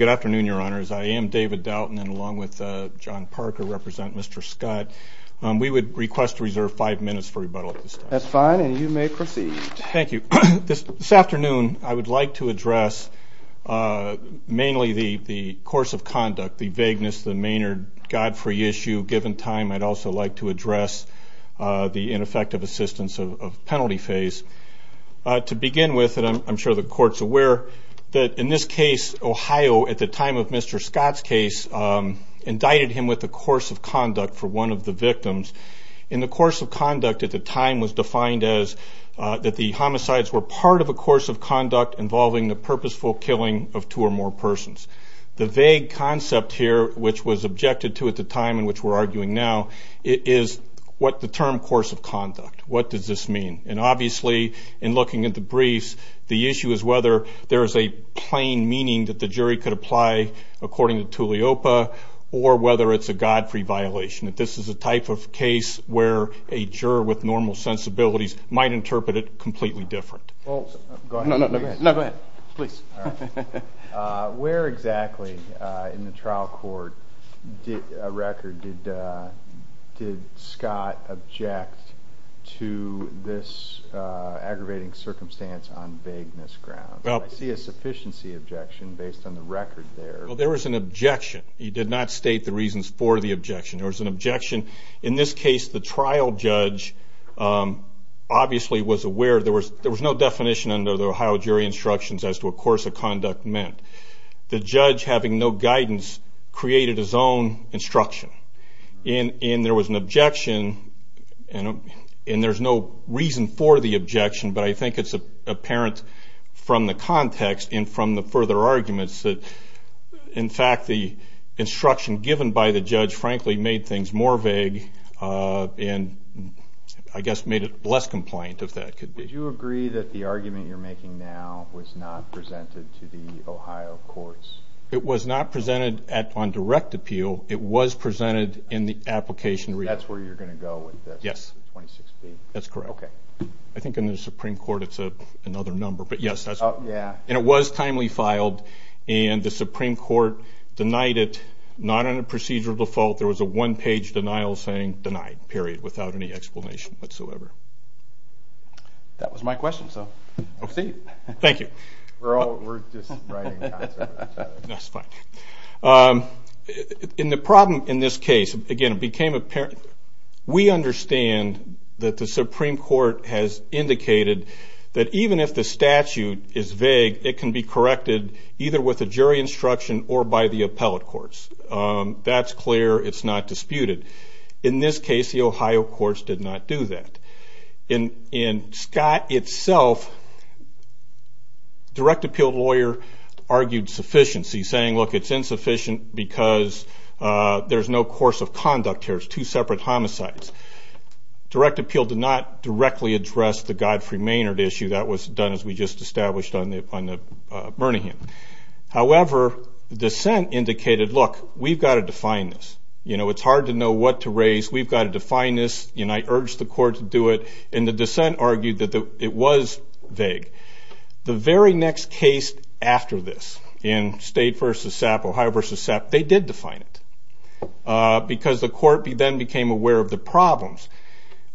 Good afternoon, your honors. I am David Doughton and along with John Parker, representing Mr. Scott. We would request to reserve five minutes for rebuttal at this time. That's fine and you may proceed. Thank you. This afternoon, I would like to address mainly the course of conduct, the vagueness, the Maynard Godfrey issue. Given time, I'd also like to address the ineffective assistance of penalty phase. To begin with, and I'm sure the court's aware, that in this case, Ohio, at the time of Mr. Scott's case, indicted him with a course of conduct for one of the victims. And the course of conduct at the time was defined as that the homicides were part of a course of conduct involving the purposeful killing of two or more persons. The vague concept here, which was objected to at the time and which we're arguing now, is what the term course of conduct, what does this mean? And obviously, in looking at the briefs, the issue is whether there is a plain meaning that the jury could apply according to Tuliopa or whether it's a Godfrey violation. This is a type of case where a juror with normal sensibilities might interpret it completely different. Where exactly in the trial court record did Scott object to this aggravating circumstance on vagueness grounds? I see a sufficiency objection based on the record there. There was an objection. He did not state the reasons for the objection. There was an objection. In this case, the trial judge obviously was aware. There was no definition under the Ohio jury instructions as to what course of conduct meant. The judge, having no guidance, created his own instruction. And there was an objection, and there's no reason for the objection, but I think it's apparent from the context and from the further arguments that, in fact, the instruction given by the judge, frankly, made things more vague and, I guess, made it less compliant, if that could be. Would you agree that the argument you're making now was not presented to the Ohio courts? It was not presented on direct appeal. It was presented in the application. That's where you're going to go with this? Yes. 26B? That's correct. Okay. I think in the Supreme Court it's another number, but yes. Yeah. And it was timely filed, and the Supreme Court denied it, not on a procedural default. There was a one-page denial saying denied, period, without any explanation whatsoever. That was my question, so proceed. Thank you. We're all just writing. That's fine. In the problem in this case, again, it became apparent. We understand that the Supreme Court has indicated that even if the statute is vague, it can be corrected either with a jury instruction or by the appellate courts. That's clear. It's not disputed. In this case, the Ohio courts did not do that. In Scott itself, direct appeal lawyer argued sufficiency, saying, look, it's insufficient because there's no course of conduct here. It's two separate homicides. Direct appeal did not directly address the Godfrey-Maynard issue. That was done, as we just established, on the Birmingham. However, dissent indicated, look, we've got to define this. It's hard to know what to raise. We've got to define this. I urged the court to do it, and the dissent argued that it was vague. The very next case after this in State v. SAP, Ohio v. SAP, they did define it because the court then became aware of the problems.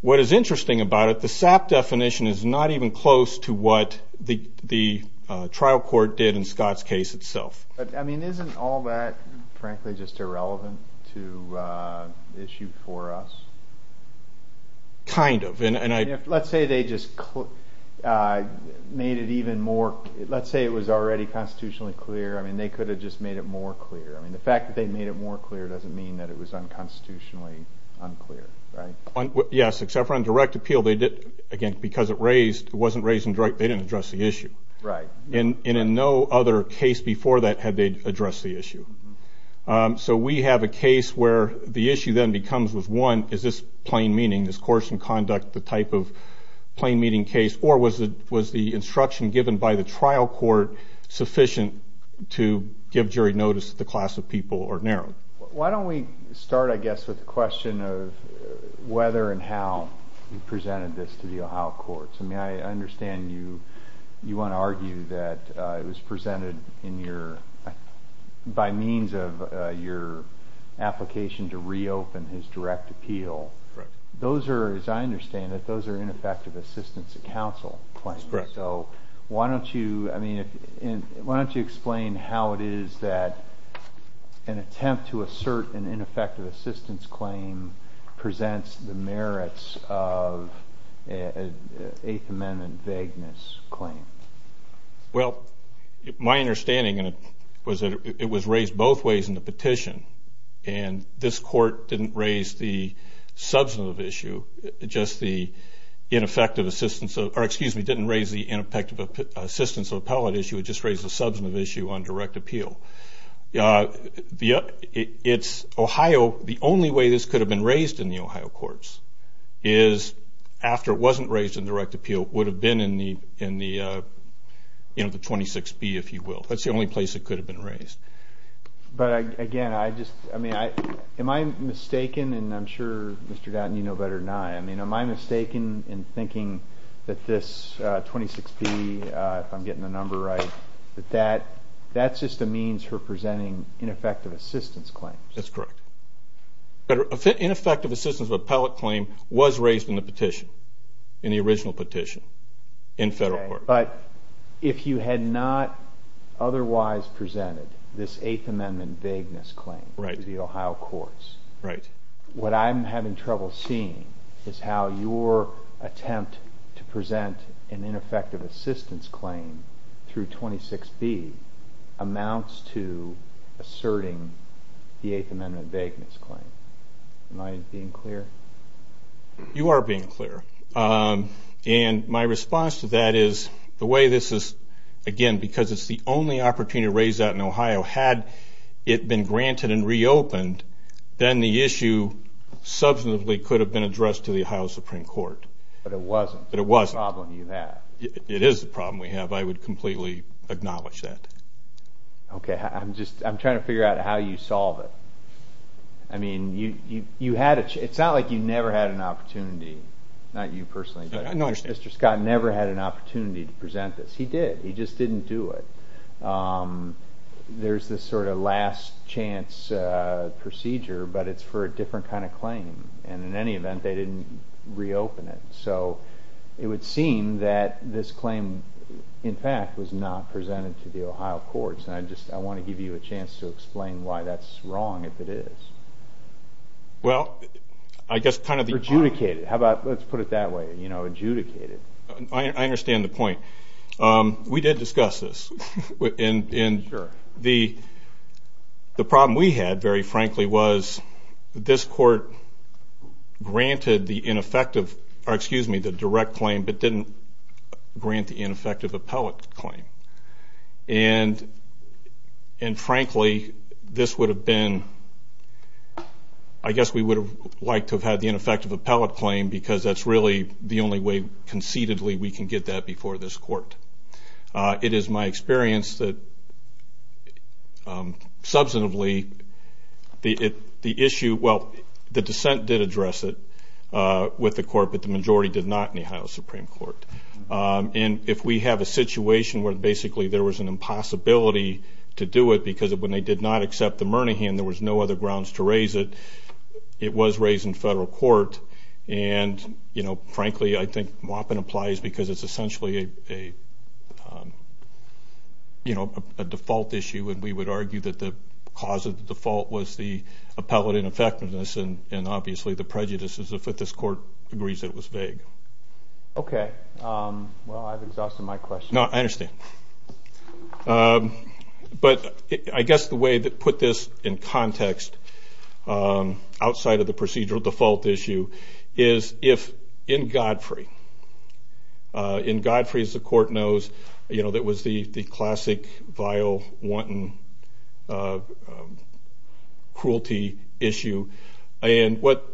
What is interesting about it, the SAP definition is not even close to what the trial court did in Scott's case itself. Isn't all that, frankly, just irrelevant to the issue for us? Kind of. Let's say it was already constitutionally clear. They could have just made it more clear. The fact that they made it more clear doesn't mean that it was unconstitutionally unclear, right? Yes, except for on direct appeal, because it wasn't raised in direct, they didn't address the issue. Right. And in no other case before that had they addressed the issue. So we have a case where the issue then becomes with, one, is this plain meaning? Is coercion conduct the type of plain meaning case? Or was the instruction given by the trial court sufficient to give jury notice that the class of people are narrow? Why don't we start, I guess, with the question of whether and how you presented this to the Ohio courts? I mean, I understand you want to argue that it was presented by means of your application to reopen his direct appeal. Correct. Those are, as I understand it, those are ineffective assistance to counsel claims. That's correct. So why don't you explain how it is that an attempt to assert an ineffective assistance claim presents the merits of an Eighth Amendment vagueness claim? Well, my understanding was that it was raised both ways in the petition. And this court didn't raise the substantive issue, just the ineffective assistance, or excuse me, didn't raise the ineffective assistance of appellate issue, it just raised the substantive issue on direct appeal. The only way this could have been raised in the Ohio courts is after it wasn't raised in direct appeal, would have been in the 26B, if you will. That's the only place it could have been raised. But again, I just, I mean, am I mistaken, and I'm sure Mr. Dattin, you know better than I, I mean, am I mistaken in thinking that this 26B, if I'm getting the number right, that that's just a means for presenting ineffective assistance claims? That's correct. Ineffective assistance of appellate claim was raised in the petition, in the original petition, in federal court. But if you had not otherwise presented this Eighth Amendment vagueness claim to the Ohio courts, what I'm having trouble seeing is how your attempt to present an ineffective assistance claim through 26B amounts to asserting the Eighth Amendment vagueness claim. Am I being clear? You are being clear. And my response to that is the way this is, again, because it's the only opportunity to raise that in Ohio, had it been granted and reopened, then the issue substantively could have been addressed to the Ohio Supreme Court. But it wasn't. But it wasn't. It's a problem you have. It is a problem we have. I would completely acknowledge that. Okay. I'm just, I'm trying to figure out how you solve it. I mean, you had, it's not like you never had an opportunity, not you personally, but Mr. Scott never had an opportunity to present this. He did. He just didn't do it. There's this sort of last chance procedure, but it's for a different kind of claim. And in any event, they didn't reopen it. So it would seem that this claim, in fact, was not presented to the Ohio courts. And I just, I want to give you a chance to explain why that's wrong, if it is. Well, I guess kind of the point. Adjudicate it. How about, let's put it that way, you know, adjudicate it. I understand the point. We did discuss this. And the problem we had, very frankly, was this court granted the ineffective, or excuse me, the direct claim, but didn't grant the ineffective appellate claim. And, frankly, this would have been, I guess we would have liked to have had the ineffective appellate claim because that's really the only way concededly we can get that before this court. It is my experience that, substantively, the issue, well, the dissent did address it with the court, but the majority did not in the Ohio Supreme Court. And if we have a situation where, basically, there was an impossibility to do it because when they did not accept the Murnihan, there was no other grounds to raise it, it was raised in federal court. And, you know, frankly, I think Moppin applies because it's essentially a default issue, and we would argue that the cause of the default was the appellate ineffectiveness and, obviously, the prejudices, if this court agrees it was vague. Okay. Well, I've exhausted my question. No, I understand. But I guess the way to put this in context, outside of the procedural default issue, is if in Godfrey, in Godfrey, as the court knows, you know, that was the classic vile, wanton, cruelty issue. And what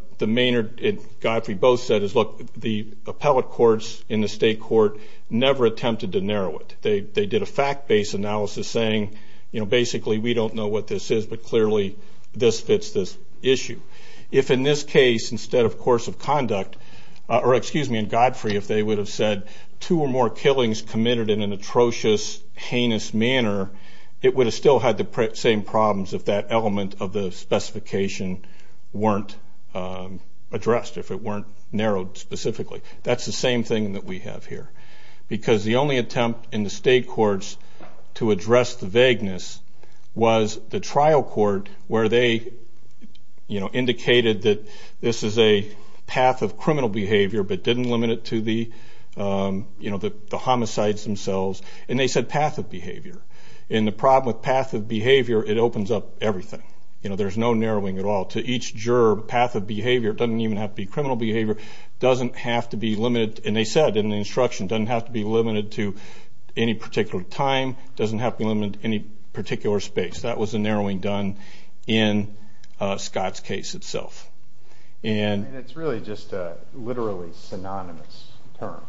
Godfrey both said is, look, the appellate courts in the state court never attempted to narrow it. They did a fact-based analysis saying, you know, basically, we don't know what this is, but clearly this fits this issue. If in this case, instead of course of conduct, or excuse me, in Godfrey, if they would have said two or more killings committed in an atrocious, heinous manner, it would have still had the same problems if that element of the specification weren't addressed, if it weren't narrowed specifically. That's the same thing that we have here. Because the only attempt in the state courts to address the vagueness was the trial court, where they, you know, indicated that this is a path of criminal behavior, but didn't limit it to the, you know, the homicides themselves. And they said path of behavior. And the problem with path of behavior, it opens up everything. You know, there's no narrowing at all. To each juror, path of behavior doesn't even have to be criminal behavior, doesn't have to be limited. And they said in the instruction, doesn't have to be limited to any particular time, doesn't have to be limited to any particular space. That was the narrowing done in Scott's case itself. And it's really just a literally synonymous term.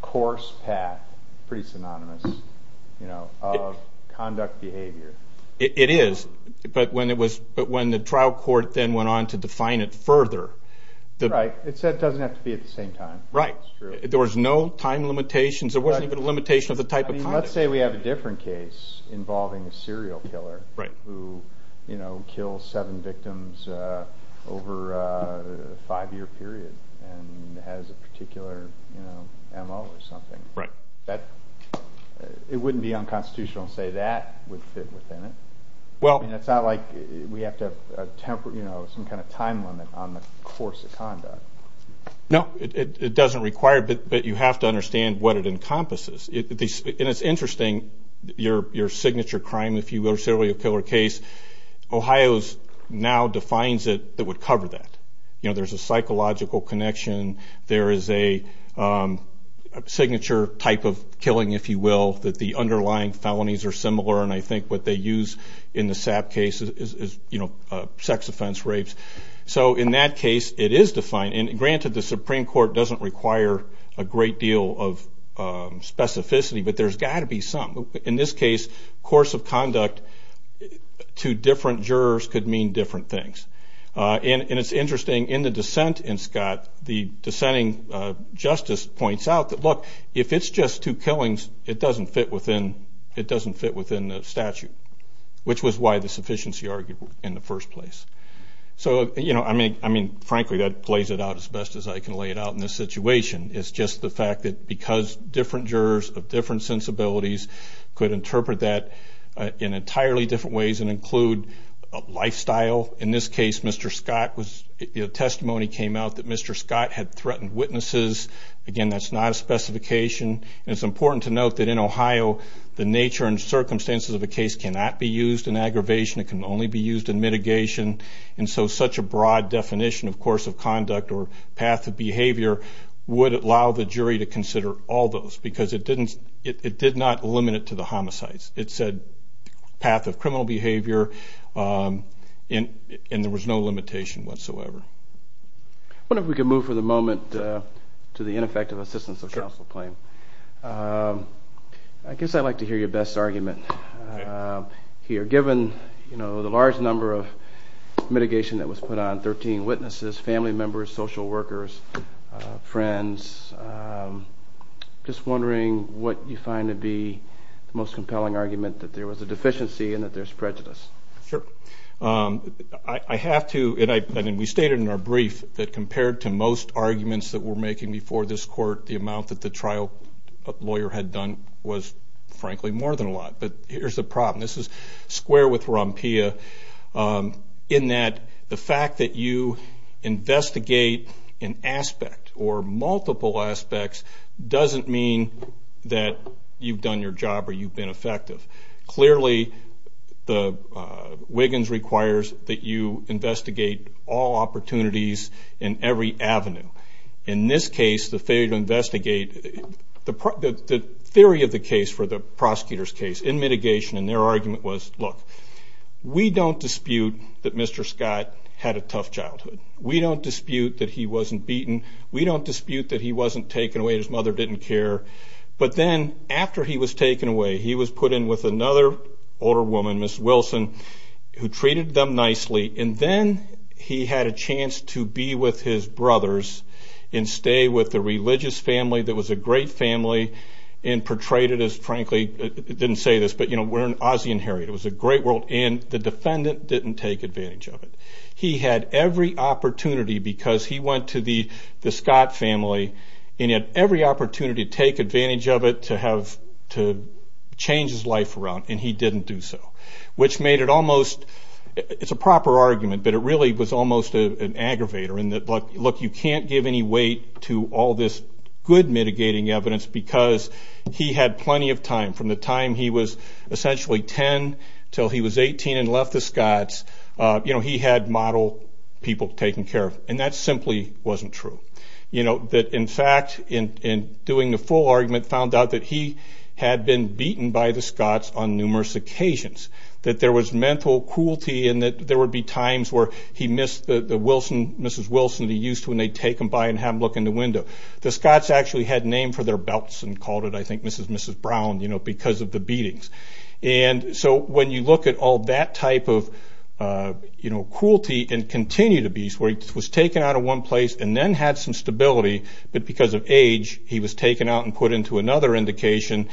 Coarse path, pretty synonymous, you know, of conduct behavior. It is. But when the trial court then went on to define it further. Right. It said it doesn't have to be at the same time. Right. There was no time limitations. There wasn't even a limitation of the type of conduct. I mean, let's say we have a different case involving a serial killer. Right. Who, you know, kills seven victims over a five-year period and has a particular, you know, M.O. or something. Right. That, it wouldn't be unconstitutional to say that would fit within it. Well. I mean, it's not like we have to have, you know, some kind of time limit on the course of conduct. No, it doesn't require, but you have to understand what it encompasses. And it's interesting, your signature crime, if you will, serial killer case. Ohio now defines it that would cover that. You know, there's a psychological connection. There is a signature type of killing, if you will, that the underlying felonies are similar. And I think what they use in the SAP case is, you know, sex offense, rapes. So in that case, it is defined. And granted, the Supreme Court doesn't require a great deal of specificity, but there's got to be some. In this case, course of conduct to different jurors could mean different things. And it's interesting, in the dissent in Scott, the dissenting justice points out that, look, if it's just two killings, it doesn't fit within the statute, which was why the sufficiency argued in the first place. So, you know, I mean, frankly, that plays it out as best as I can lay it out in this situation. It's just the fact that because different jurors of different sensibilities could interpret that in entirely different ways and include a lifestyle, in this case, Mr. Scott was, you know, testimony came out that Mr. Scott had threatened witnesses. Again, that's not a specification. And it's important to note that in Ohio, the nature and circumstances of a case cannot be used in aggravation. It can only be used in mitigation. And so such a broad definition, of course, of conduct or path of behavior would allow the jury to consider all those because it did not limit it to the homicides. It said path of criminal behavior, and there was no limitation whatsoever. I wonder if we could move for the moment to the ineffective assistance of counsel claim. I guess I'd like to hear your best argument here. Given, you know, the large number of mitigation that was put on, 13 witnesses, family members, social workers, friends, just wondering what you find to be the most compelling argument, that there was a deficiency and that there's prejudice. Sure. I have to, and we stated in our brief that compared to most arguments that we're making before this court, the amount that the trial lawyer had done was, frankly, more than a lot. But here's the problem. This is square with Rompia in that the fact that you investigate an aspect or multiple aspects doesn't mean that you've done your job or you've been effective. Clearly, Wiggins requires that you investigate all opportunities and every avenue. In this case, the failure to investigate, the theory of the case for the prosecutor's case in mitigation and their argument was, look, we don't dispute that Mr. Scott had a tough childhood. We don't dispute that he wasn't beaten. We don't dispute that he wasn't taken away. His mother didn't care. But then after he was taken away, he was put in with another older woman, Ms. Wilson, who treated them nicely, and then he had a chance to be with his brothers and stay with a religious family that was a great family and portrayed it as, frankly, it didn't say this, but we're in Ozzie and Harriet. It was a great world, and the defendant didn't take advantage of it. He had every opportunity, because he went to the Scott family, and he had every opportunity to take advantage of it to change his life around, and he didn't do so, which made it almost, it's a proper argument, but it really was almost an aggravator in that, look, you can't give any weight to all this good mitigating evidence because he had plenty of time. From the time he was essentially 10 until he was 18 and left the Scotts, he had model people taken care of, and that simply wasn't true. In fact, in doing the full argument, found out that he had been beaten by the Scotts on numerous occasions, that there was mental cruelty and that there would be times where he missed the Mrs. Wilson he used to when they'd take him by and have him look in the window. The Scotts actually had a name for their belts and called it, I think, Mrs. and Mrs. Brown because of the beatings. When you look at all that type of cruelty and continued abuse, where he was taken out of one place and then had some stability, but because of age, he was taken out and put into another indication,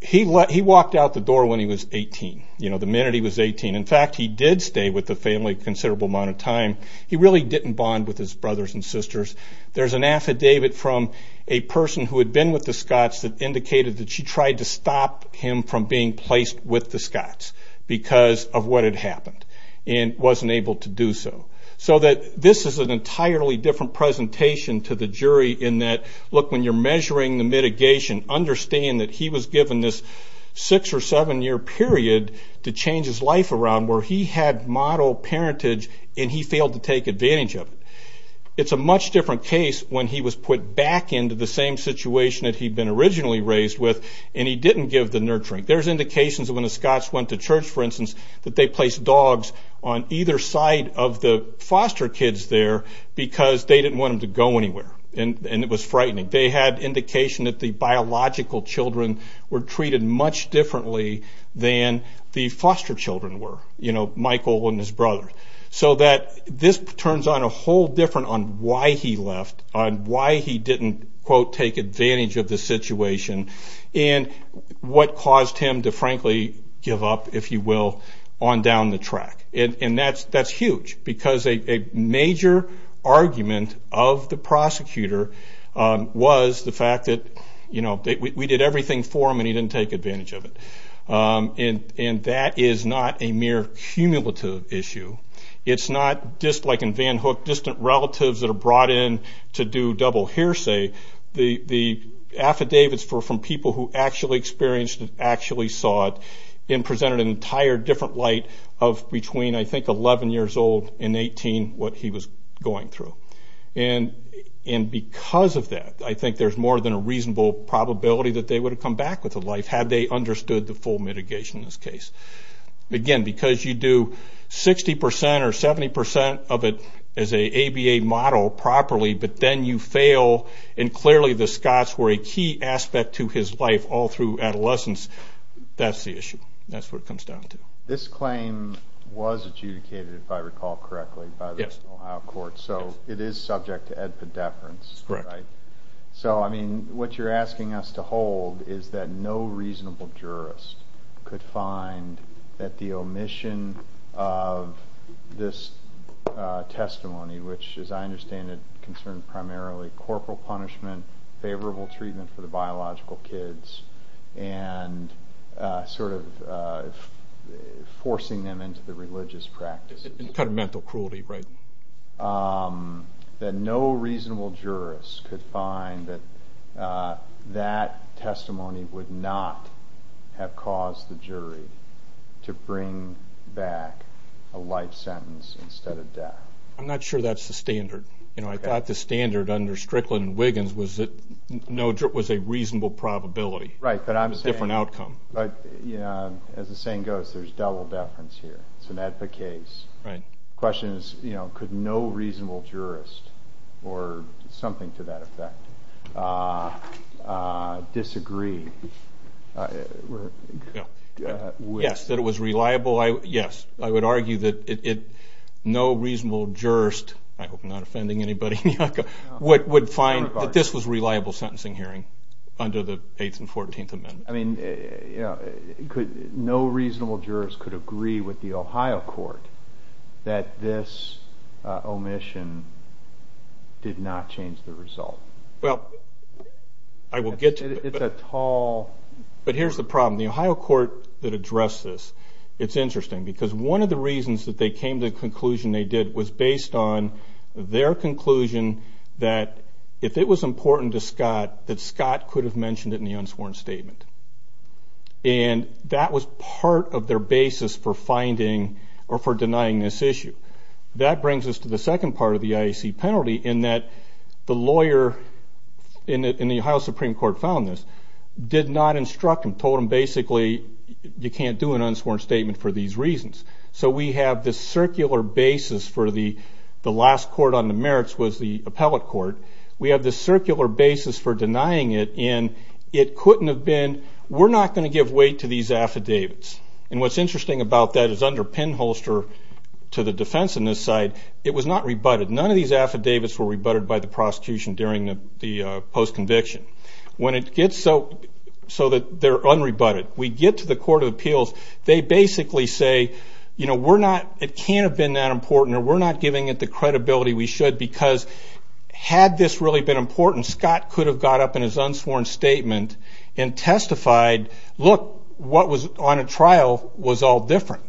he walked out the door when he was 18, the minute he was 18. In fact, he did stay with the family a considerable amount of time. He really didn't bond with his brothers and sisters. There's an affidavit from a person who had been with the Scotts that indicated that she tried to stop him from being placed with the Scotts because of what had happened and wasn't able to do so. This is an entirely different presentation to the jury in that, look, when you're measuring the mitigation, understand that he was given this six or seven year period to change his life around where he had model parentage and he failed to take advantage of it. It's a much different case when he was put back into the same situation that he'd been originally raised with and he didn't give the nurturing. There's indications that when the Scotts went to church, for instance, that they placed dogs on either side of the foster kids there because they didn't want them to go anywhere and it was frightening. They had indication that the biological children were treated much differently than the foster children were, Michael and his brother, so that this turns on a whole different on why he left, on why he didn't, quote, take advantage of the situation, and what caused him to frankly give up, if you will, on down the track. And that's huge because a major argument of the prosecutor was the fact that we did everything for him and he didn't take advantage of it. And that is not a mere cumulative issue. It's not just like in Van Hook, distant relatives that are brought in to do double hearsay. The affidavits were from people who actually experienced and actually saw it and presented an entire different light of between, I think, 11 years old and 18, what he was going through. And because of that, I think there's more than a reasonable probability that they would have come back with a life had they understood the full mitigation in this case. Again, because you do 60% or 70% of it as an ABA model properly, but then you fail, and clearly the Scots were a key aspect to his life all through adolescence, that's the issue. That's what it comes down to. This claim was adjudicated, if I recall correctly, by the Ohio courts. So it is subject to edpidepherence, right? Correct. So, I mean, what you're asking us to hold is that no reasonable jurist could find that the omission of this testimony, which, as I understand it, concerned primarily corporal punishment, favorable treatment for the biological kids, and sort of forcing them into the religious practices. Kind of mental cruelty, right? That no reasonable jurist could find that that testimony would not have caused the jury to bring back a life sentence instead of death. I'm not sure that's the standard. You know, I thought the standard under Strickland and Wiggins was that it was a reasonable probability. Right. Different outcome. As the saying goes, there's double deference here. It's an edpid case. Right. The question is, you know, could no reasonable jurist, or something to that effect, disagree? Yes, that it was reliable. Yes. I would argue that no reasonable jurist, I hope I'm not offending anybody, would find that this was a reliable sentencing hearing under the 8th and 14th amendments. I mean, you know, no reasonable jurist could agree with the Ohio court that this omission did not change the result. Well, I will get to that. It's a tall... But here's the problem. The Ohio court that addressed this, it's interesting, because one of the reasons that they came to the conclusion they did was based on their conclusion that if it was important to Scott, that Scott could have mentioned it in the unsworn statement. And that was part of their basis for finding or for denying this issue. That brings us to the second part of the IAC penalty in that the lawyer in the Ohio Supreme Court found this, did not instruct him, told him basically you can't do an unsworn statement for these reasons. So we have this circular basis for the last court on the merits was the appellate court. We have this circular basis for denying it, and it couldn't have been, we're not going to give weight to these affidavits. And what's interesting about that is under pinholster to the defense on this side, it was not rebutted. None of these affidavits were rebutted by the prosecution during the post-conviction. When it gets so that they're unrebutted, we get to the court of appeals. They basically say, you know, we're not, it can't have been that important, or we're not giving it the credibility we should because had this really been important, Scott could have got up in his unsworn statement and testified, look, what was on a trial was all different.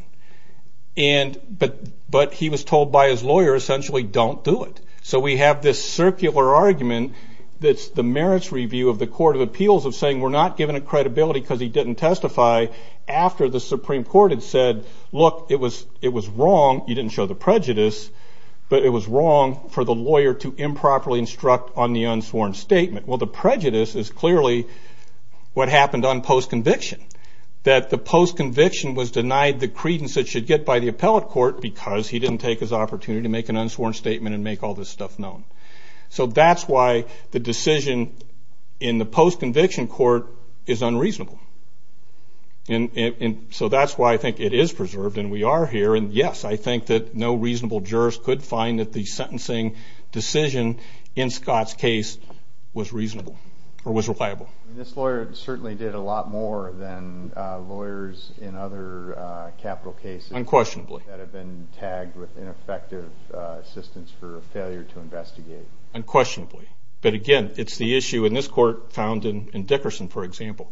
But he was told by his lawyer essentially don't do it. So we have this circular argument that's the merits review of the court of appeals of saying we're not giving it credibility because he didn't testify after the Supreme Court had said, look, it was wrong, you didn't show the prejudice, but it was wrong for the lawyer to improperly instruct on the unsworn statement. Well, the prejudice is clearly what happened on post-conviction, that the post-conviction was denied the credence it should get by the appellate court because he didn't take his opportunity to make an unsworn statement and make all this stuff known. So that's why the decision in the post-conviction court is unreasonable. And so that's why I think it is preserved, and we are here. And yes, I think that no reasonable jurist could find that the sentencing decision in Scott's case was reasonable or was reliable. This lawyer certainly did a lot more than lawyers in other capital cases... Unquestionably. ...that have been tagged with ineffective assistance for failure to investigate. Unquestionably. But again, it's the issue in this court found in Dickerson, for example.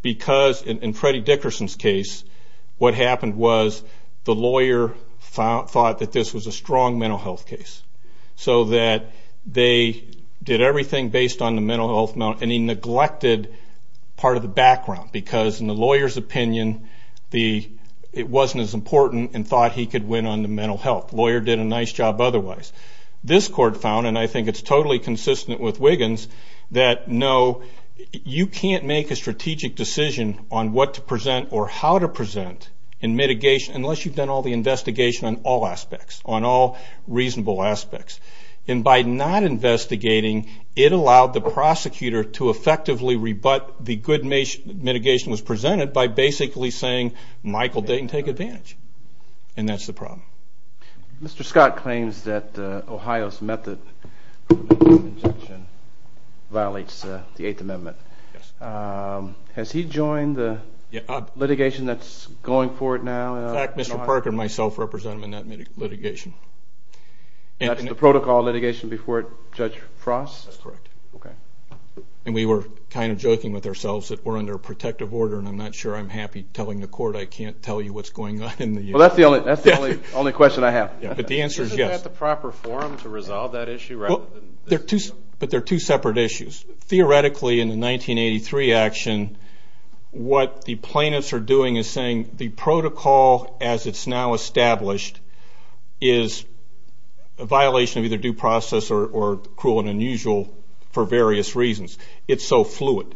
Because in Freddie Dickerson's case, what happened was the lawyer thought that this was a strong mental health case. So that they did everything based on the mental health amount, and he neglected part of the background. Because in the lawyer's opinion, it wasn't as important and thought he could win on the mental health. The lawyer did a nice job otherwise. This court found, and I think it's totally consistent with Wiggins, that no, you can't make a strategic decision on what to present or how to present in mitigation unless you've done all the investigation on all aspects, on all reasonable aspects. And by not investigating, it allowed the prosecutor to effectively rebut the good mitigation was presented by basically saying Michael didn't take advantage. And that's the problem. Mr. Scott claims that Ohio's method of mitigation violation violates the Eighth Amendment. Yes. Has he joined the litigation that's going forward now? In fact, Mr. Parker and myself represent him in that litigation. That's the protocol litigation before Judge Frost? That's correct. Okay. And we were kind of joking with ourselves that we're under protective order, and I'm not sure I'm happy telling the court I can't tell you what's going on in the U.S. Well, that's the only question I have. But the answer is yes. Isn't that the proper forum to resolve that issue? But they're two separate issues. Theoretically, in the 1983 action, what the plaintiffs are doing is saying the protocol as it's now established is a violation of either due process or cruel and unusual for various reasons. It's so fluid.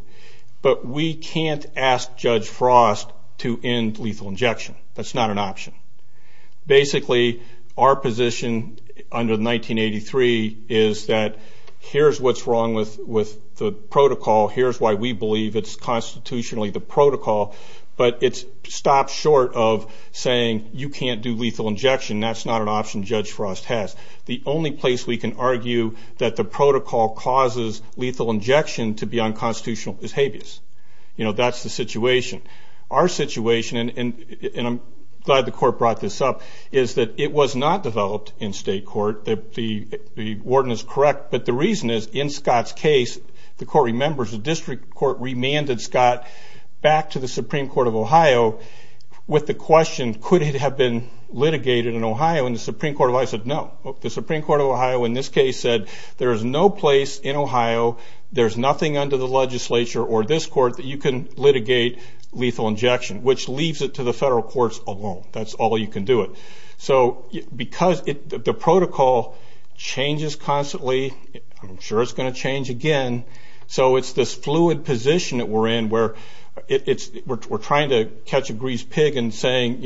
But we can't ask Judge Frost to end lethal injection. That's not an option. Basically, our position under 1983 is that here's what's wrong with the protocol, here's why we believe it's constitutionally the protocol, but it's stopped short of saying you can't do lethal injection. That's not an option Judge Frost has. The only place we can argue that the protocol causes lethal injection to be unconstitutional is habeas. That's the situation. Our situation, and I'm glad the court brought this up, is that it was not developed in state court. The warden is correct, but the reason is in Scott's case, the court remembers the district court remanded Scott back to the Supreme Court of Ohio with the question could it have been litigated in Ohio, and the Supreme Court of Ohio said no. The Supreme Court of Ohio in this case said there is no place in Ohio, there's nothing under the legislature or this court that you can litigate lethal injection, which leaves it to the federal courts alone. That's all you can do it. So because the protocol changes constantly, I'm sure it's going to change again, so it's this fluid position that we're in where we're trying to catch a greased pig and saying,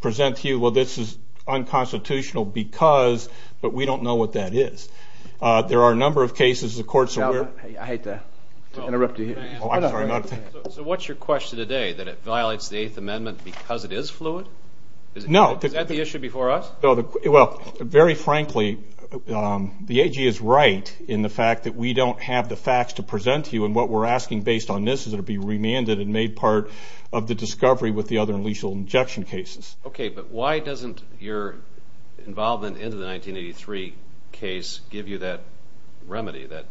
present to you, well, this is unconstitutional because, but we don't know what that is. There are a number of cases the courts are aware of. I hate to interrupt you here. I'm sorry. So what's your question today, that it violates the Eighth Amendment because it is fluid? No. Is that the issue before us? Well, very frankly, the AG is right in the fact that we don't have the facts to present to you, and what we're asking based on this is it be remanded and made part of the discovery with the other lethal injection cases. Okay, but why doesn't your involvement into the 1983 case give you that remedy? Why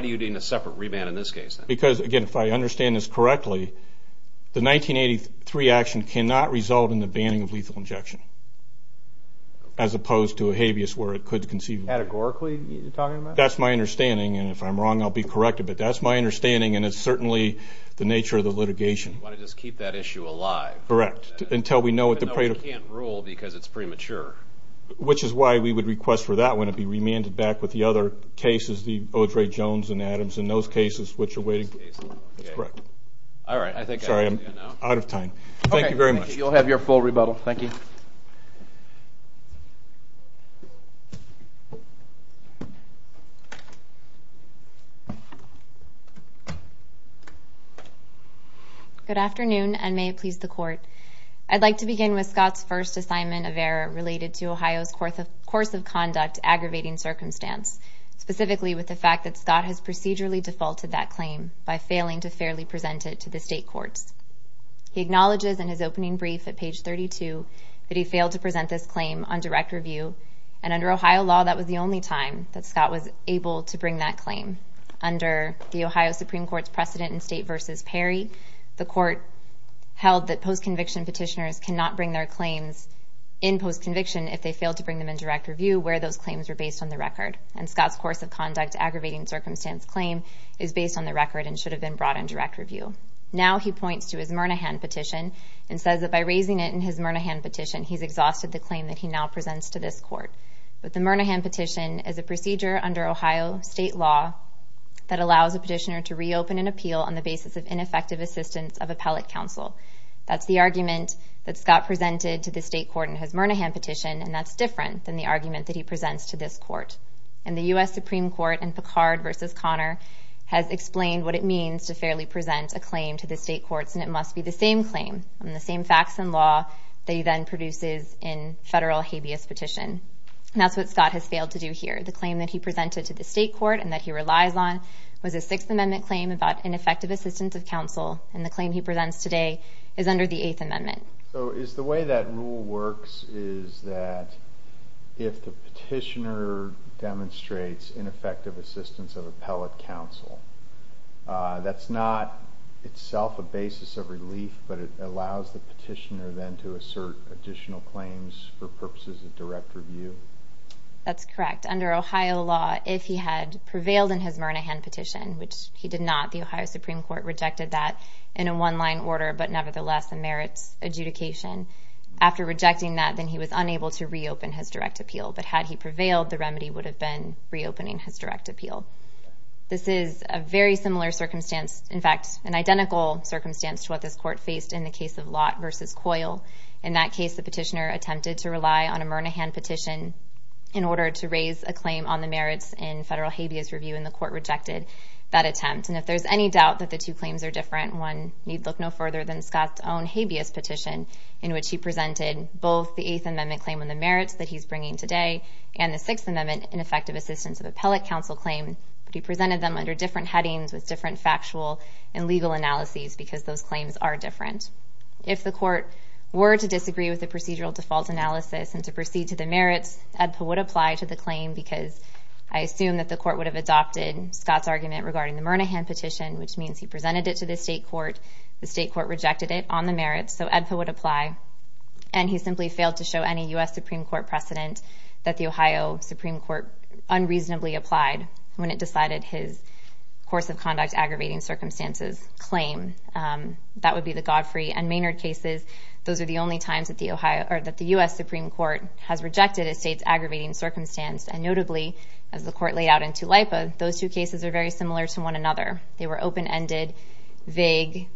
do you need a separate remand in this case? Because, again, if I understand this correctly, the 1983 action cannot result in the banning of lethal injection, as opposed to a habeas where it could conceive. Categorically, you're talking about? That's my understanding, and if I'm wrong, I'll be corrected, You want to just keep that issue alive. Correct. Even though it can't rule because it's premature. Which is why we would request for that one to be remanded back with the other cases, the O'Dray, Jones, and Adams, and those cases which are waiting. All right. Sorry, I'm out of time. Thank you very much. You'll have your full rebuttal. Thank you. Good afternoon, and may it please the Court. I'd like to begin with Scott's first assignment of error related to Ohio's course of conduct aggravating circumstance, specifically with the fact that Scott has procedurally defaulted that claim by failing to fairly present it to the state courts. He acknowledges in his opening brief at page 32 that he failed to present this claim on direct review, and under Ohio law, that was the only time that Scott was able to bring that claim. Under the Ohio Supreme Court's precedent in State v. Perry, the Court held that post-conviction petitioners cannot bring their claims in post-conviction if they fail to bring them in direct review where those claims were based on the record. And Scott's course of conduct aggravating circumstance claim is based on the record and should have been brought in direct review. Now he points to his Murnahan petition and says that by raising it in his Murnahan petition, he's exhausted the claim that he now presents to this Court. But the Murnahan petition is a procedure under Ohio state law that allows a petitioner to reopen an appeal on the basis of ineffective assistance of appellate counsel. That's the argument that Scott presented to the state court in his Murnahan petition, and that's different than the argument that he presents to this court. And the U.S. Supreme Court in Picard v. Connor has explained what it means to fairly present a claim to the state courts, and it must be the same claim on the same facts and law that he then produces in federal habeas petition. And that's what Scott has failed to do here. The claim that he presented to the state court and that he relies on was a Sixth Amendment claim about ineffective assistance of counsel, and the claim he presents today is under the Eighth Amendment. So is the way that rule works is that if the petitioner demonstrates ineffective assistance of appellate counsel, that's not itself a basis of relief, but it allows the petitioner then to assert additional claims for purposes of direct review? That's correct. Under Ohio law, if he had prevailed in his Murnahan petition, which he did not, the Ohio Supreme Court rejected that in a one-line order, but nevertheless a merits adjudication. After rejecting that, then he was unable to reopen his direct appeal. But had he prevailed, the remedy would have been reopening his direct appeal. This is a very similar circumstance, in fact, an identical circumstance to what this court faced in the case of Lott v. Coyle. In that case, the petitioner attempted to rely on a Murnahan petition in order to raise a claim on the merits in federal habeas review, and the court rejected that attempt. And if there's any doubt that the two claims are different, one need look no further than Scott's own habeas petition, in which he presented both the Eighth Amendment claim on the merits that he's bringing today and the Sixth Amendment ineffective Assistance of Appellate Counsel claim, but he presented them under different headings with different factual and legal analyses, because those claims are different. And if the court were to disagree with the procedural default analysis and to proceed to the merits, EDPA would apply to the claim because I assume that the court would have adopted Scott's argument regarding the Murnahan petition, which means he presented it to the state court. The state court rejected it on the merits, so EDPA would apply. And he simply failed to show any U.S. Supreme Court precedent that the Ohio Supreme Court unreasonably applied when it decided his course-of-conduct aggravating circumstances claim. That would be the Godfrey and Maynard cases. Those are the only times that the U.S. Supreme Court has rejected a state's aggravating circumstance, and notably, as the court laid out in Tulipa, those two cases are very similar to one another. They were open-ended, vague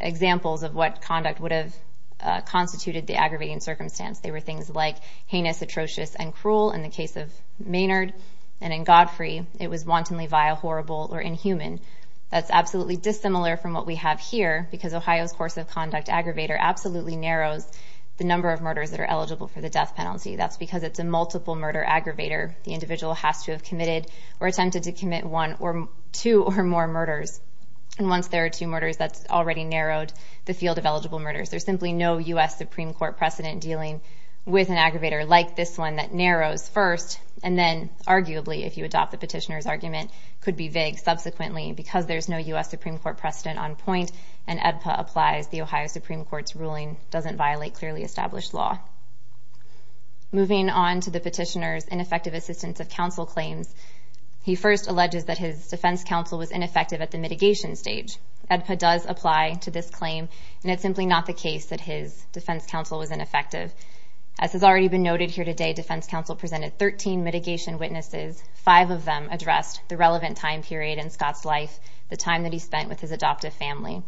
examples of what conduct would have constituted the aggravating circumstance. They were things like heinous, atrocious, and cruel in the case of Maynard, and in Godfrey, it was wantonly vile, horrible, or inhuman. That's absolutely dissimilar from what we have here, because Ohio's course-of-conduct aggravator absolutely narrows the number of murders that are eligible for the death penalty. That's because it's a multiple-murder aggravator. The individual has to have committed or attempted to commit one or two or more murders. And once there are two murders, that's already narrowed the field of eligible murders. There's simply no U.S. Supreme Court precedent dealing with an aggravator like this one that narrows first, and then, arguably, if you adopt the petitioner's argument, could be vague subsequently, because there's no U.S. Supreme Court precedent on point, and AEDPA applies the Ohio Supreme Court's ruling, doesn't violate clearly established law. Moving on to the petitioner's ineffective assistance of counsel claims, he first alleges that his defense counsel was ineffective at the mitigation stage. AEDPA does apply to this claim, and it's simply not the case that his defense counsel was ineffective. As has already been noted here today, defense counsel presented 13 mitigation witnesses, five of them addressed the relevant time period in Scott's life, the time that he spent with his adoptive family.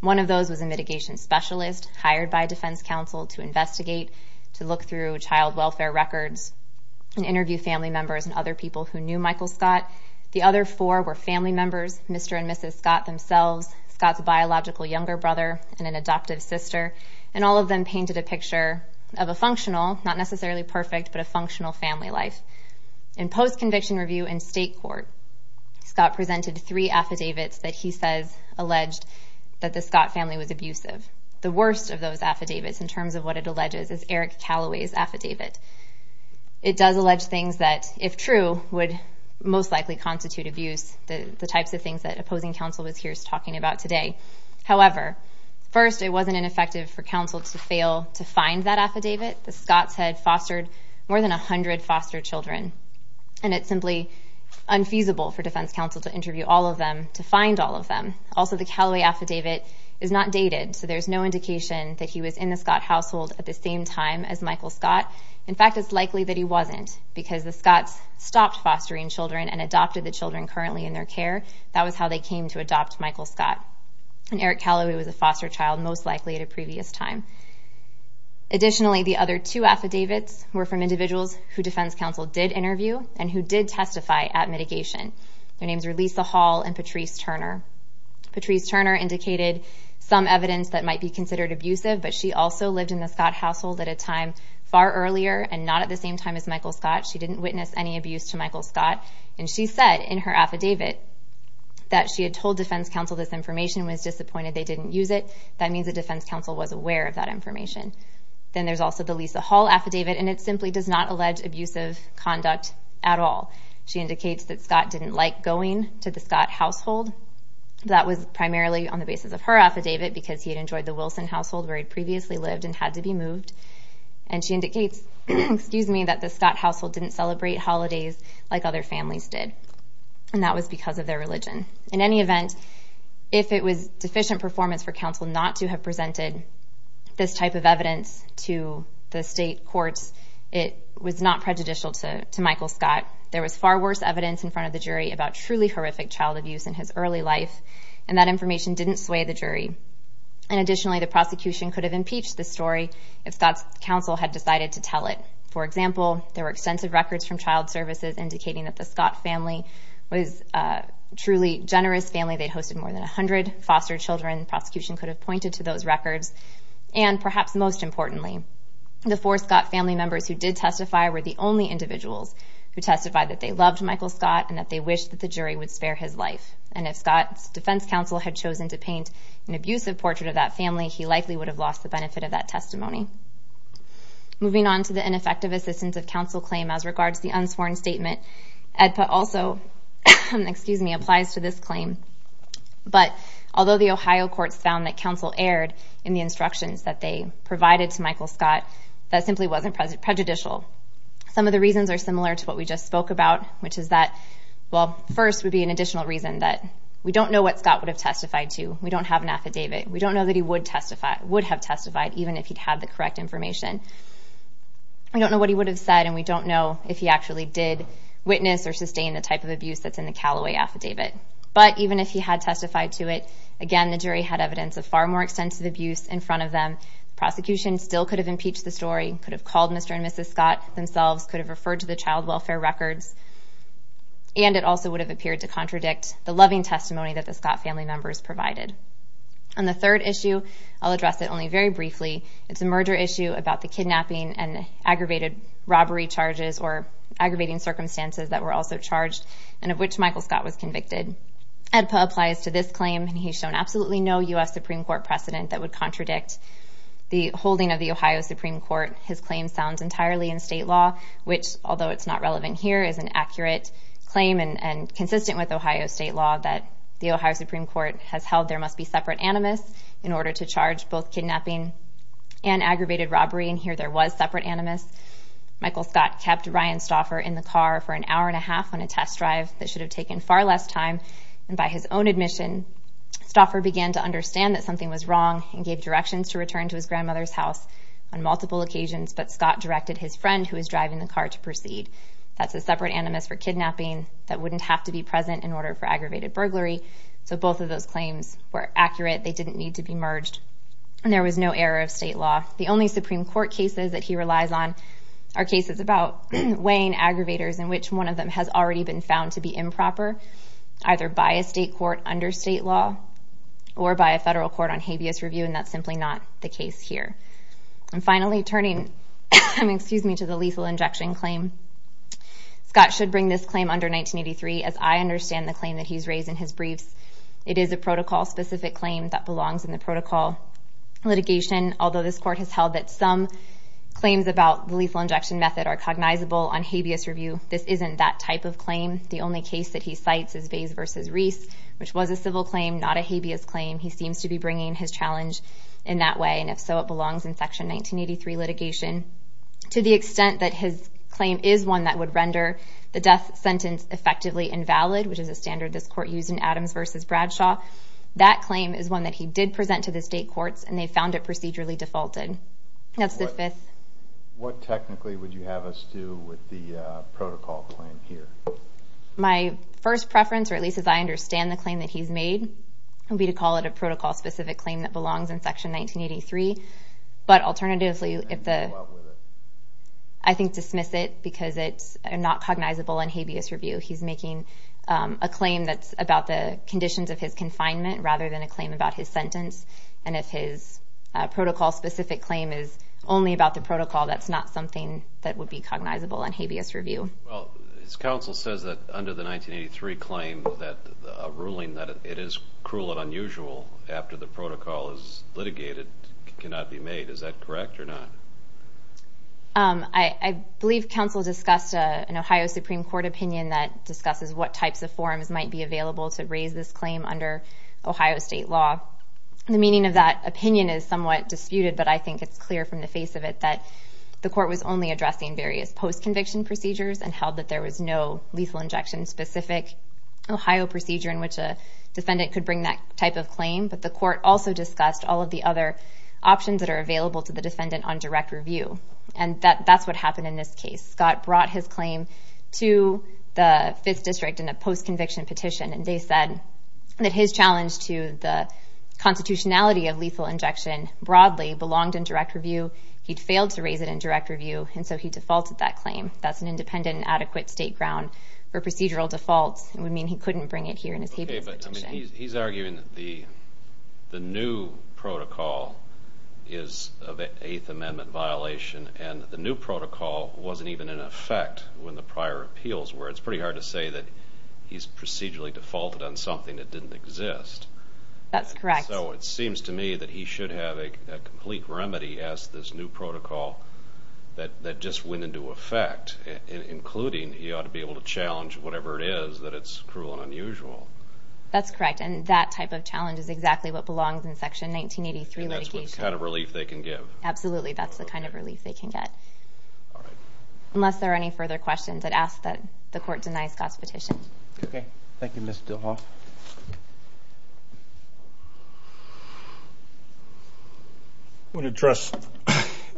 One of those was a mitigation specialist hired by defense counsel to investigate, to look through child welfare records, and interview family members and other people who knew Michael Scott. The other four were family members, Mr. and Mrs. Scott themselves, Scott's biological younger brother, and an adoptive sister, and all of them painted a picture of a functional, not necessarily perfect, but a functional family life. In post-conviction review in state court, Scott presented three affidavits that he says alleged that the Scott family was abusive. The worst of those affidavits in terms of what it alleges is Eric Calloway's affidavit. It does allege things that, if true, would most likely constitute abuse, the types of things that opposing counsel was here talking about today. However, first, it wasn't ineffective for counsel to fail to find that affidavit. The Scotts had fostered more than 100 foster children, and it's simply unfeasible for defense counsel to interview all of them, to find all of them. Also, the Calloway affidavit is not dated, so there's no indication that he was in the Scott household at the same time as Michael Scott. In fact, it's likely that he wasn't, because the Scotts stopped fostering children and adopted the children currently in their care. That was how they came to adopt Michael Scott. And Eric Calloway was a foster child, most likely at a previous time. Additionally, the other two affidavits were from individuals who defense counsel did interview and who did testify at mitigation. Their names were Lisa Hall and Patrice Turner. Patrice Turner indicated some evidence that might be considered abusive, but she also lived in the Scott household at a time far earlier and not at the same time as Michael Scott. She didn't witness any abuse to Michael Scott, and she said in her affidavit that she had told defense counsel this information when it's disappointed they didn't use it. That means that defense counsel was aware of that information. Then there's also the Lisa Hall affidavit, and it simply does not allege abusive conduct at all. She indicates that Scott didn't like going to the Scott household. That was primarily on the basis of her affidavit, because he had enjoyed the Wilson household where he'd previously lived and had to be moved. And she indicates that the Scott household didn't celebrate holidays like other families did, and that was because of their religion. In any event, if it was deficient performance for counsel not to have presented this type of evidence to the state courts, it was not prejudicial to Michael Scott. There was far worse evidence in front of the jury about truly horrific child abuse in his early life, and that information didn't sway the jury. And additionally, the prosecution could have impeached this story if Scott's counsel had decided to tell it. For example, there were extensive records from child services indicating that the Scott family was a truly generous family. They'd hosted more than 100 foster children. Prosecution could have pointed to those records. And perhaps most importantly, the four Scott family members who did testify were the only individuals who testified that they loved Michael Scott and that they wished that the jury would spare his life. And if Scott's defense counsel had chosen to paint an abusive portrait of that family, he likely would have lost the benefit of that testimony. Moving on to the ineffective assistance of counsel claim as regards to the unsworn statement, EDPA also applies to this claim. But although the Ohio courts found that counsel erred in the instructions that they provided to Michael Scott, that simply wasn't prejudicial. Some of the reasons are similar to what we just spoke about, which is that, well, first would be an additional reason that we don't know what Scott would have testified to. We don't have an affidavit. We don't know that he would have testified even if he'd had the correct information. We don't know what he would have said, and we don't know if he actually did witness or sustain the type of abuse that's in the Callaway affidavit. But even if he had testified to it, again, the jury had evidence of far more extensive abuse in front of them. The prosecution still could have impeached the story, could have called Mr. and Mrs. Scott themselves, could have referred to the child welfare records, and it also would have appeared to contradict the loving testimony that the Scott family members provided. On the third issue, I'll address it only very briefly. It's a merger issue about the kidnapping and aggravated robbery charges or aggravating circumstances that were also charged and of which Michael Scott was convicted. AEDPA applies to this claim, and he's shown absolutely no U.S. Supreme Court precedent that would contradict the holding of the Ohio Supreme Court. His claim sounds entirely in state law, which, although it's not relevant here, is an accurate claim and consistent with Ohio state law that the Ohio Supreme Court has held there must be separate animus in order to charge both kidnapping and aggravated robbery, and here there was separate animus. Michael Scott kept Ryan Stauffer in the car for an hour and a half on a test drive that should have taken far less time, and by his own admission, Stauffer began to understand that something was wrong and gave directions to return to his grandmother's house on multiple occasions, but Scott directed his friend, who was driving the car, to proceed. That's a separate animus for kidnapping that wouldn't have to be present in order for aggravated burglary, so both of those claims were accurate. They didn't need to be merged, and there was no error of state law. The only Supreme Court cases that he relies on are cases about weighing aggravators in which one of them has already been found to be improper, either by a state court under state law or by a federal court on habeas review, and that's simply not the case here. And finally, turning to the lethal injection claim, Scott should bring this claim under 1983 as I understand the claim that he's raised in his briefs. It is a protocol-specific claim that belongs in the protocol litigation, although this court has held that some claims about the lethal injection method are cognizable on habeas review. This isn't that type of claim. The only case that he cites is Vase v. Reese, which was a civil claim, not a habeas claim. He seems to be bringing his challenge in that way, and if so, it belongs in Section 1983 litigation. To the extent that his claim is one that would render the death sentence effectively invalid, which is a standard this court used in Adams v. Bradshaw, that claim is one that he did present to the state courts, and they found it procedurally defaulted. That's the fifth. What technically would you have us do with the protocol claim here? My first preference, or at least as I understand the claim that he's made, would be to call it a protocol-specific claim that belongs in Section 1983. But alternatively, I think dismiss it because it's not cognizable on habeas review. He's making a claim that's about the conditions of his confinement rather than a claim about his sentence, and if his protocol-specific claim is only about the protocol, that's not something that would be cognizable on habeas review. Well, his counsel says that under the 1983 claim, that a ruling that it is cruel and unusual after the protocol is litigated cannot be made. Is that correct or not? I believe counsel discussed an Ohio Supreme Court opinion that discusses what types of forms might be available to raise this claim under Ohio state law. The meaning of that opinion is somewhat disputed, but I think it's clear from the face of it that the court was only addressing various post-conviction procedures and held that there was no lethal injection-specific Ohio procedure in which a defendant could bring that type of claim. But the court also discussed all of the other options that are available to the defendant on direct review, and that's what happened in this case. Scott brought his claim to the 5th District in a post-conviction petition, and they said that his challenge to the constitutionality of lethal injection broadly belonged in direct review. He'd failed to raise it in direct review, and so he defaulted that claim. That's an independent and adequate state ground for procedural defaults. It would mean he couldn't bring it here in his habeas petition. Okay, but he's arguing that the new protocol is of 8th Amendment violation, and the new protocol wasn't even in effect when the prior appeals were. It's pretty hard to say that he's procedurally defaulted on something that didn't exist. That's correct. So it seems to me that he should have a complete remedy as to this new protocol that just went into effect, including he ought to be able to challenge whatever it is that it's cruel and unusual. That's correct, and that type of challenge is exactly what belongs in Section 1983 litigation. And that's the kind of relief they can give. Absolutely, that's the kind of relief they can get. Unless there are any further questions, I'd ask that the court deny Scott's petition. Okay. Thank you, Ms. Dilhoff. I want to address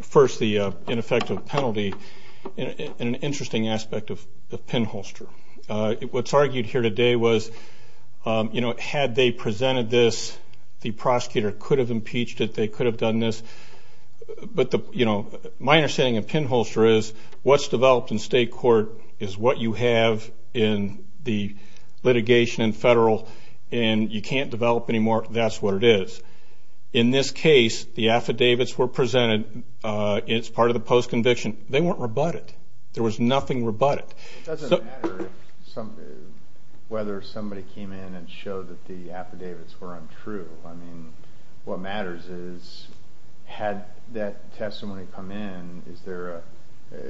first the ineffective penalty and an interesting aspect of the pinholster. What's argued here today was, you know, had they presented this, the prosecutor could have impeached it, they could have done this. But, you know, my understanding of pinholster is what's developed in state court is what you have in the litigation in federal, and you can't develop any more, that's what it is. In this case, the affidavits were presented. It's part of the post-conviction. They weren't rebutted. There was nothing rebutted. It doesn't matter whether somebody came in and showed that the affidavits were untrue. I mean, what matters is, had that testimony come in,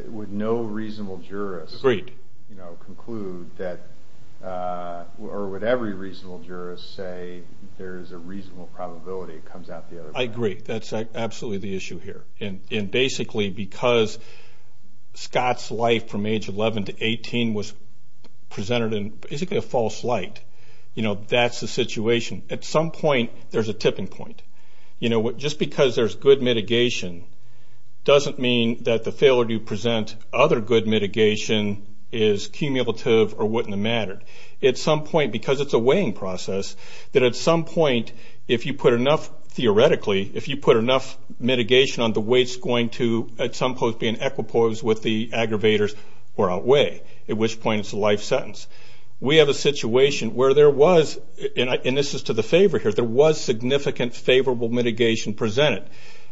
would no reasonable jurist conclude that, or would every reasonable jurist say there is a reasonable probability it comes out the other way? I agree. That's absolutely the issue here. And basically because Scott's life from age 11 to 18 was presented in basically a false light, you know, that's the situation. At some point, there's a tipping point. You know, just because there's good mitigation doesn't mean that the failure to present other good mitigation is cumulative or wouldn't have mattered. At some point, because it's a weighing process, that at some point, if you put enough, theoretically, if you put enough mitigation on the weights going to, at some point, be an equipose with the aggravators or outweigh, at which point it's a life sentence. We have a situation where there was, and this is to the favor here, there was significant favorable mitigation presented.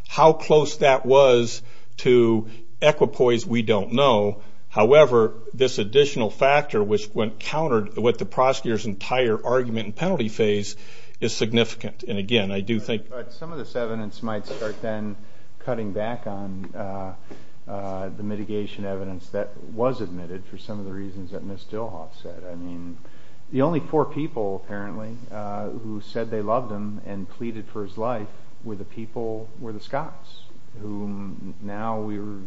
How close that was to equipoise, we don't know. However, this additional factor, which when countered with the prosecutor's entire argument and penalty phase, is significant, and again, I do think. Some of this evidence might start then cutting back on the mitigation evidence that was admitted for some of the reasons that Ms. Dilhoff said. I mean, the only four people, apparently, who said they loved him and pleaded for his life were the people, were the Scots, whom now we're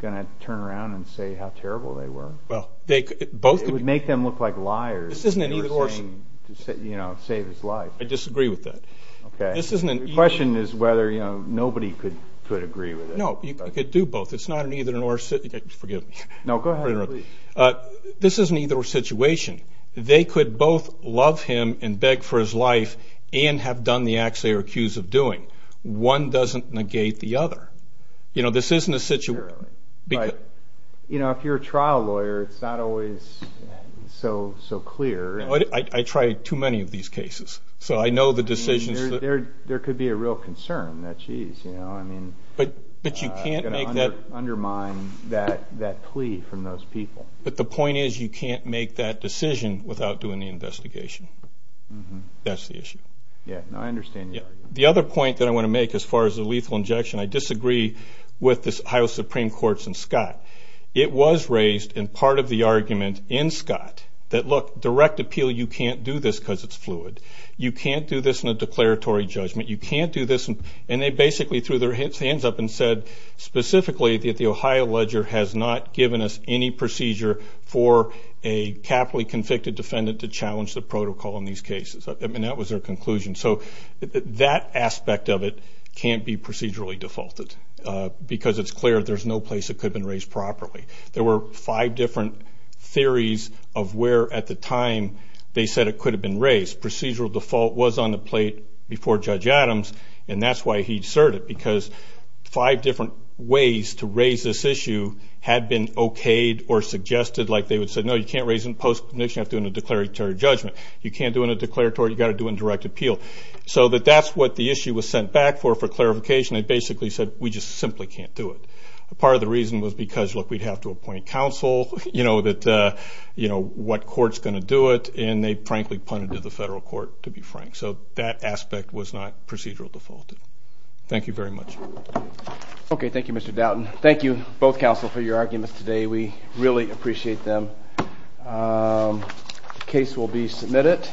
going to turn around and say how terrible they were. It would make them look like liars. This isn't an either or. You know, save his life. I disagree with that. Okay. The question is whether, you know, nobody could agree with it. No, you could do both. It's not an either or. Forgive me. No, go ahead. This is an either or situation. They could both love him and beg for his life and have done the acts they are accused of doing. One doesn't negate the other. You know, this isn't a situation. You know, if you're a trial lawyer, it's not always so clear. I try too many of these cases, so I know the decisions. There could be a real concern that, jeez, you know, I mean, I'm going to undermine that plea from those people. But the point is you can't make that decision without doing the investigation. That's the issue. Yeah, no, I understand your argument. The other point that I want to make as far as the lethal injection, I disagree with the Ohio Supreme Court's and Scott. It was raised in part of the argument in Scott that, look, direct appeal, you can't do this because it's fluid. You can't do this in a declaratory judgment. You can't do this. And they basically threw their hands up and said, specifically, that the Ohio ledger has not given us any procedure for a capitally convicted defendant to challenge the protocol in these cases. I mean, that was their conclusion. So that aspect of it can't be procedurally defaulted because it's clear there's no place it could have been raised properly. There were five different theories of where at the time they said it could have been raised. Procedural default was on the plate before Judge Adams, and that's why he asserted because five different ways to raise this issue had been okayed or suggested like they would say, no, you can't raise it in post-conviction. You have to do it in a declaratory judgment. You can't do it in a declaratory. You've got to do it in direct appeal. So that that's what the issue was sent back for for clarification. They basically said, we just simply can't do it. Part of the reason was because, look, we'd have to appoint counsel. You know, what court's going to do it? And they frankly punted to the federal court, to be frank. So that aspect was not procedural defaulted. Thank you very much. Okay. Thank you, Mr. Doughton. Thank you, both counsel, for your arguments today. We really appreciate them. The case will be submitted.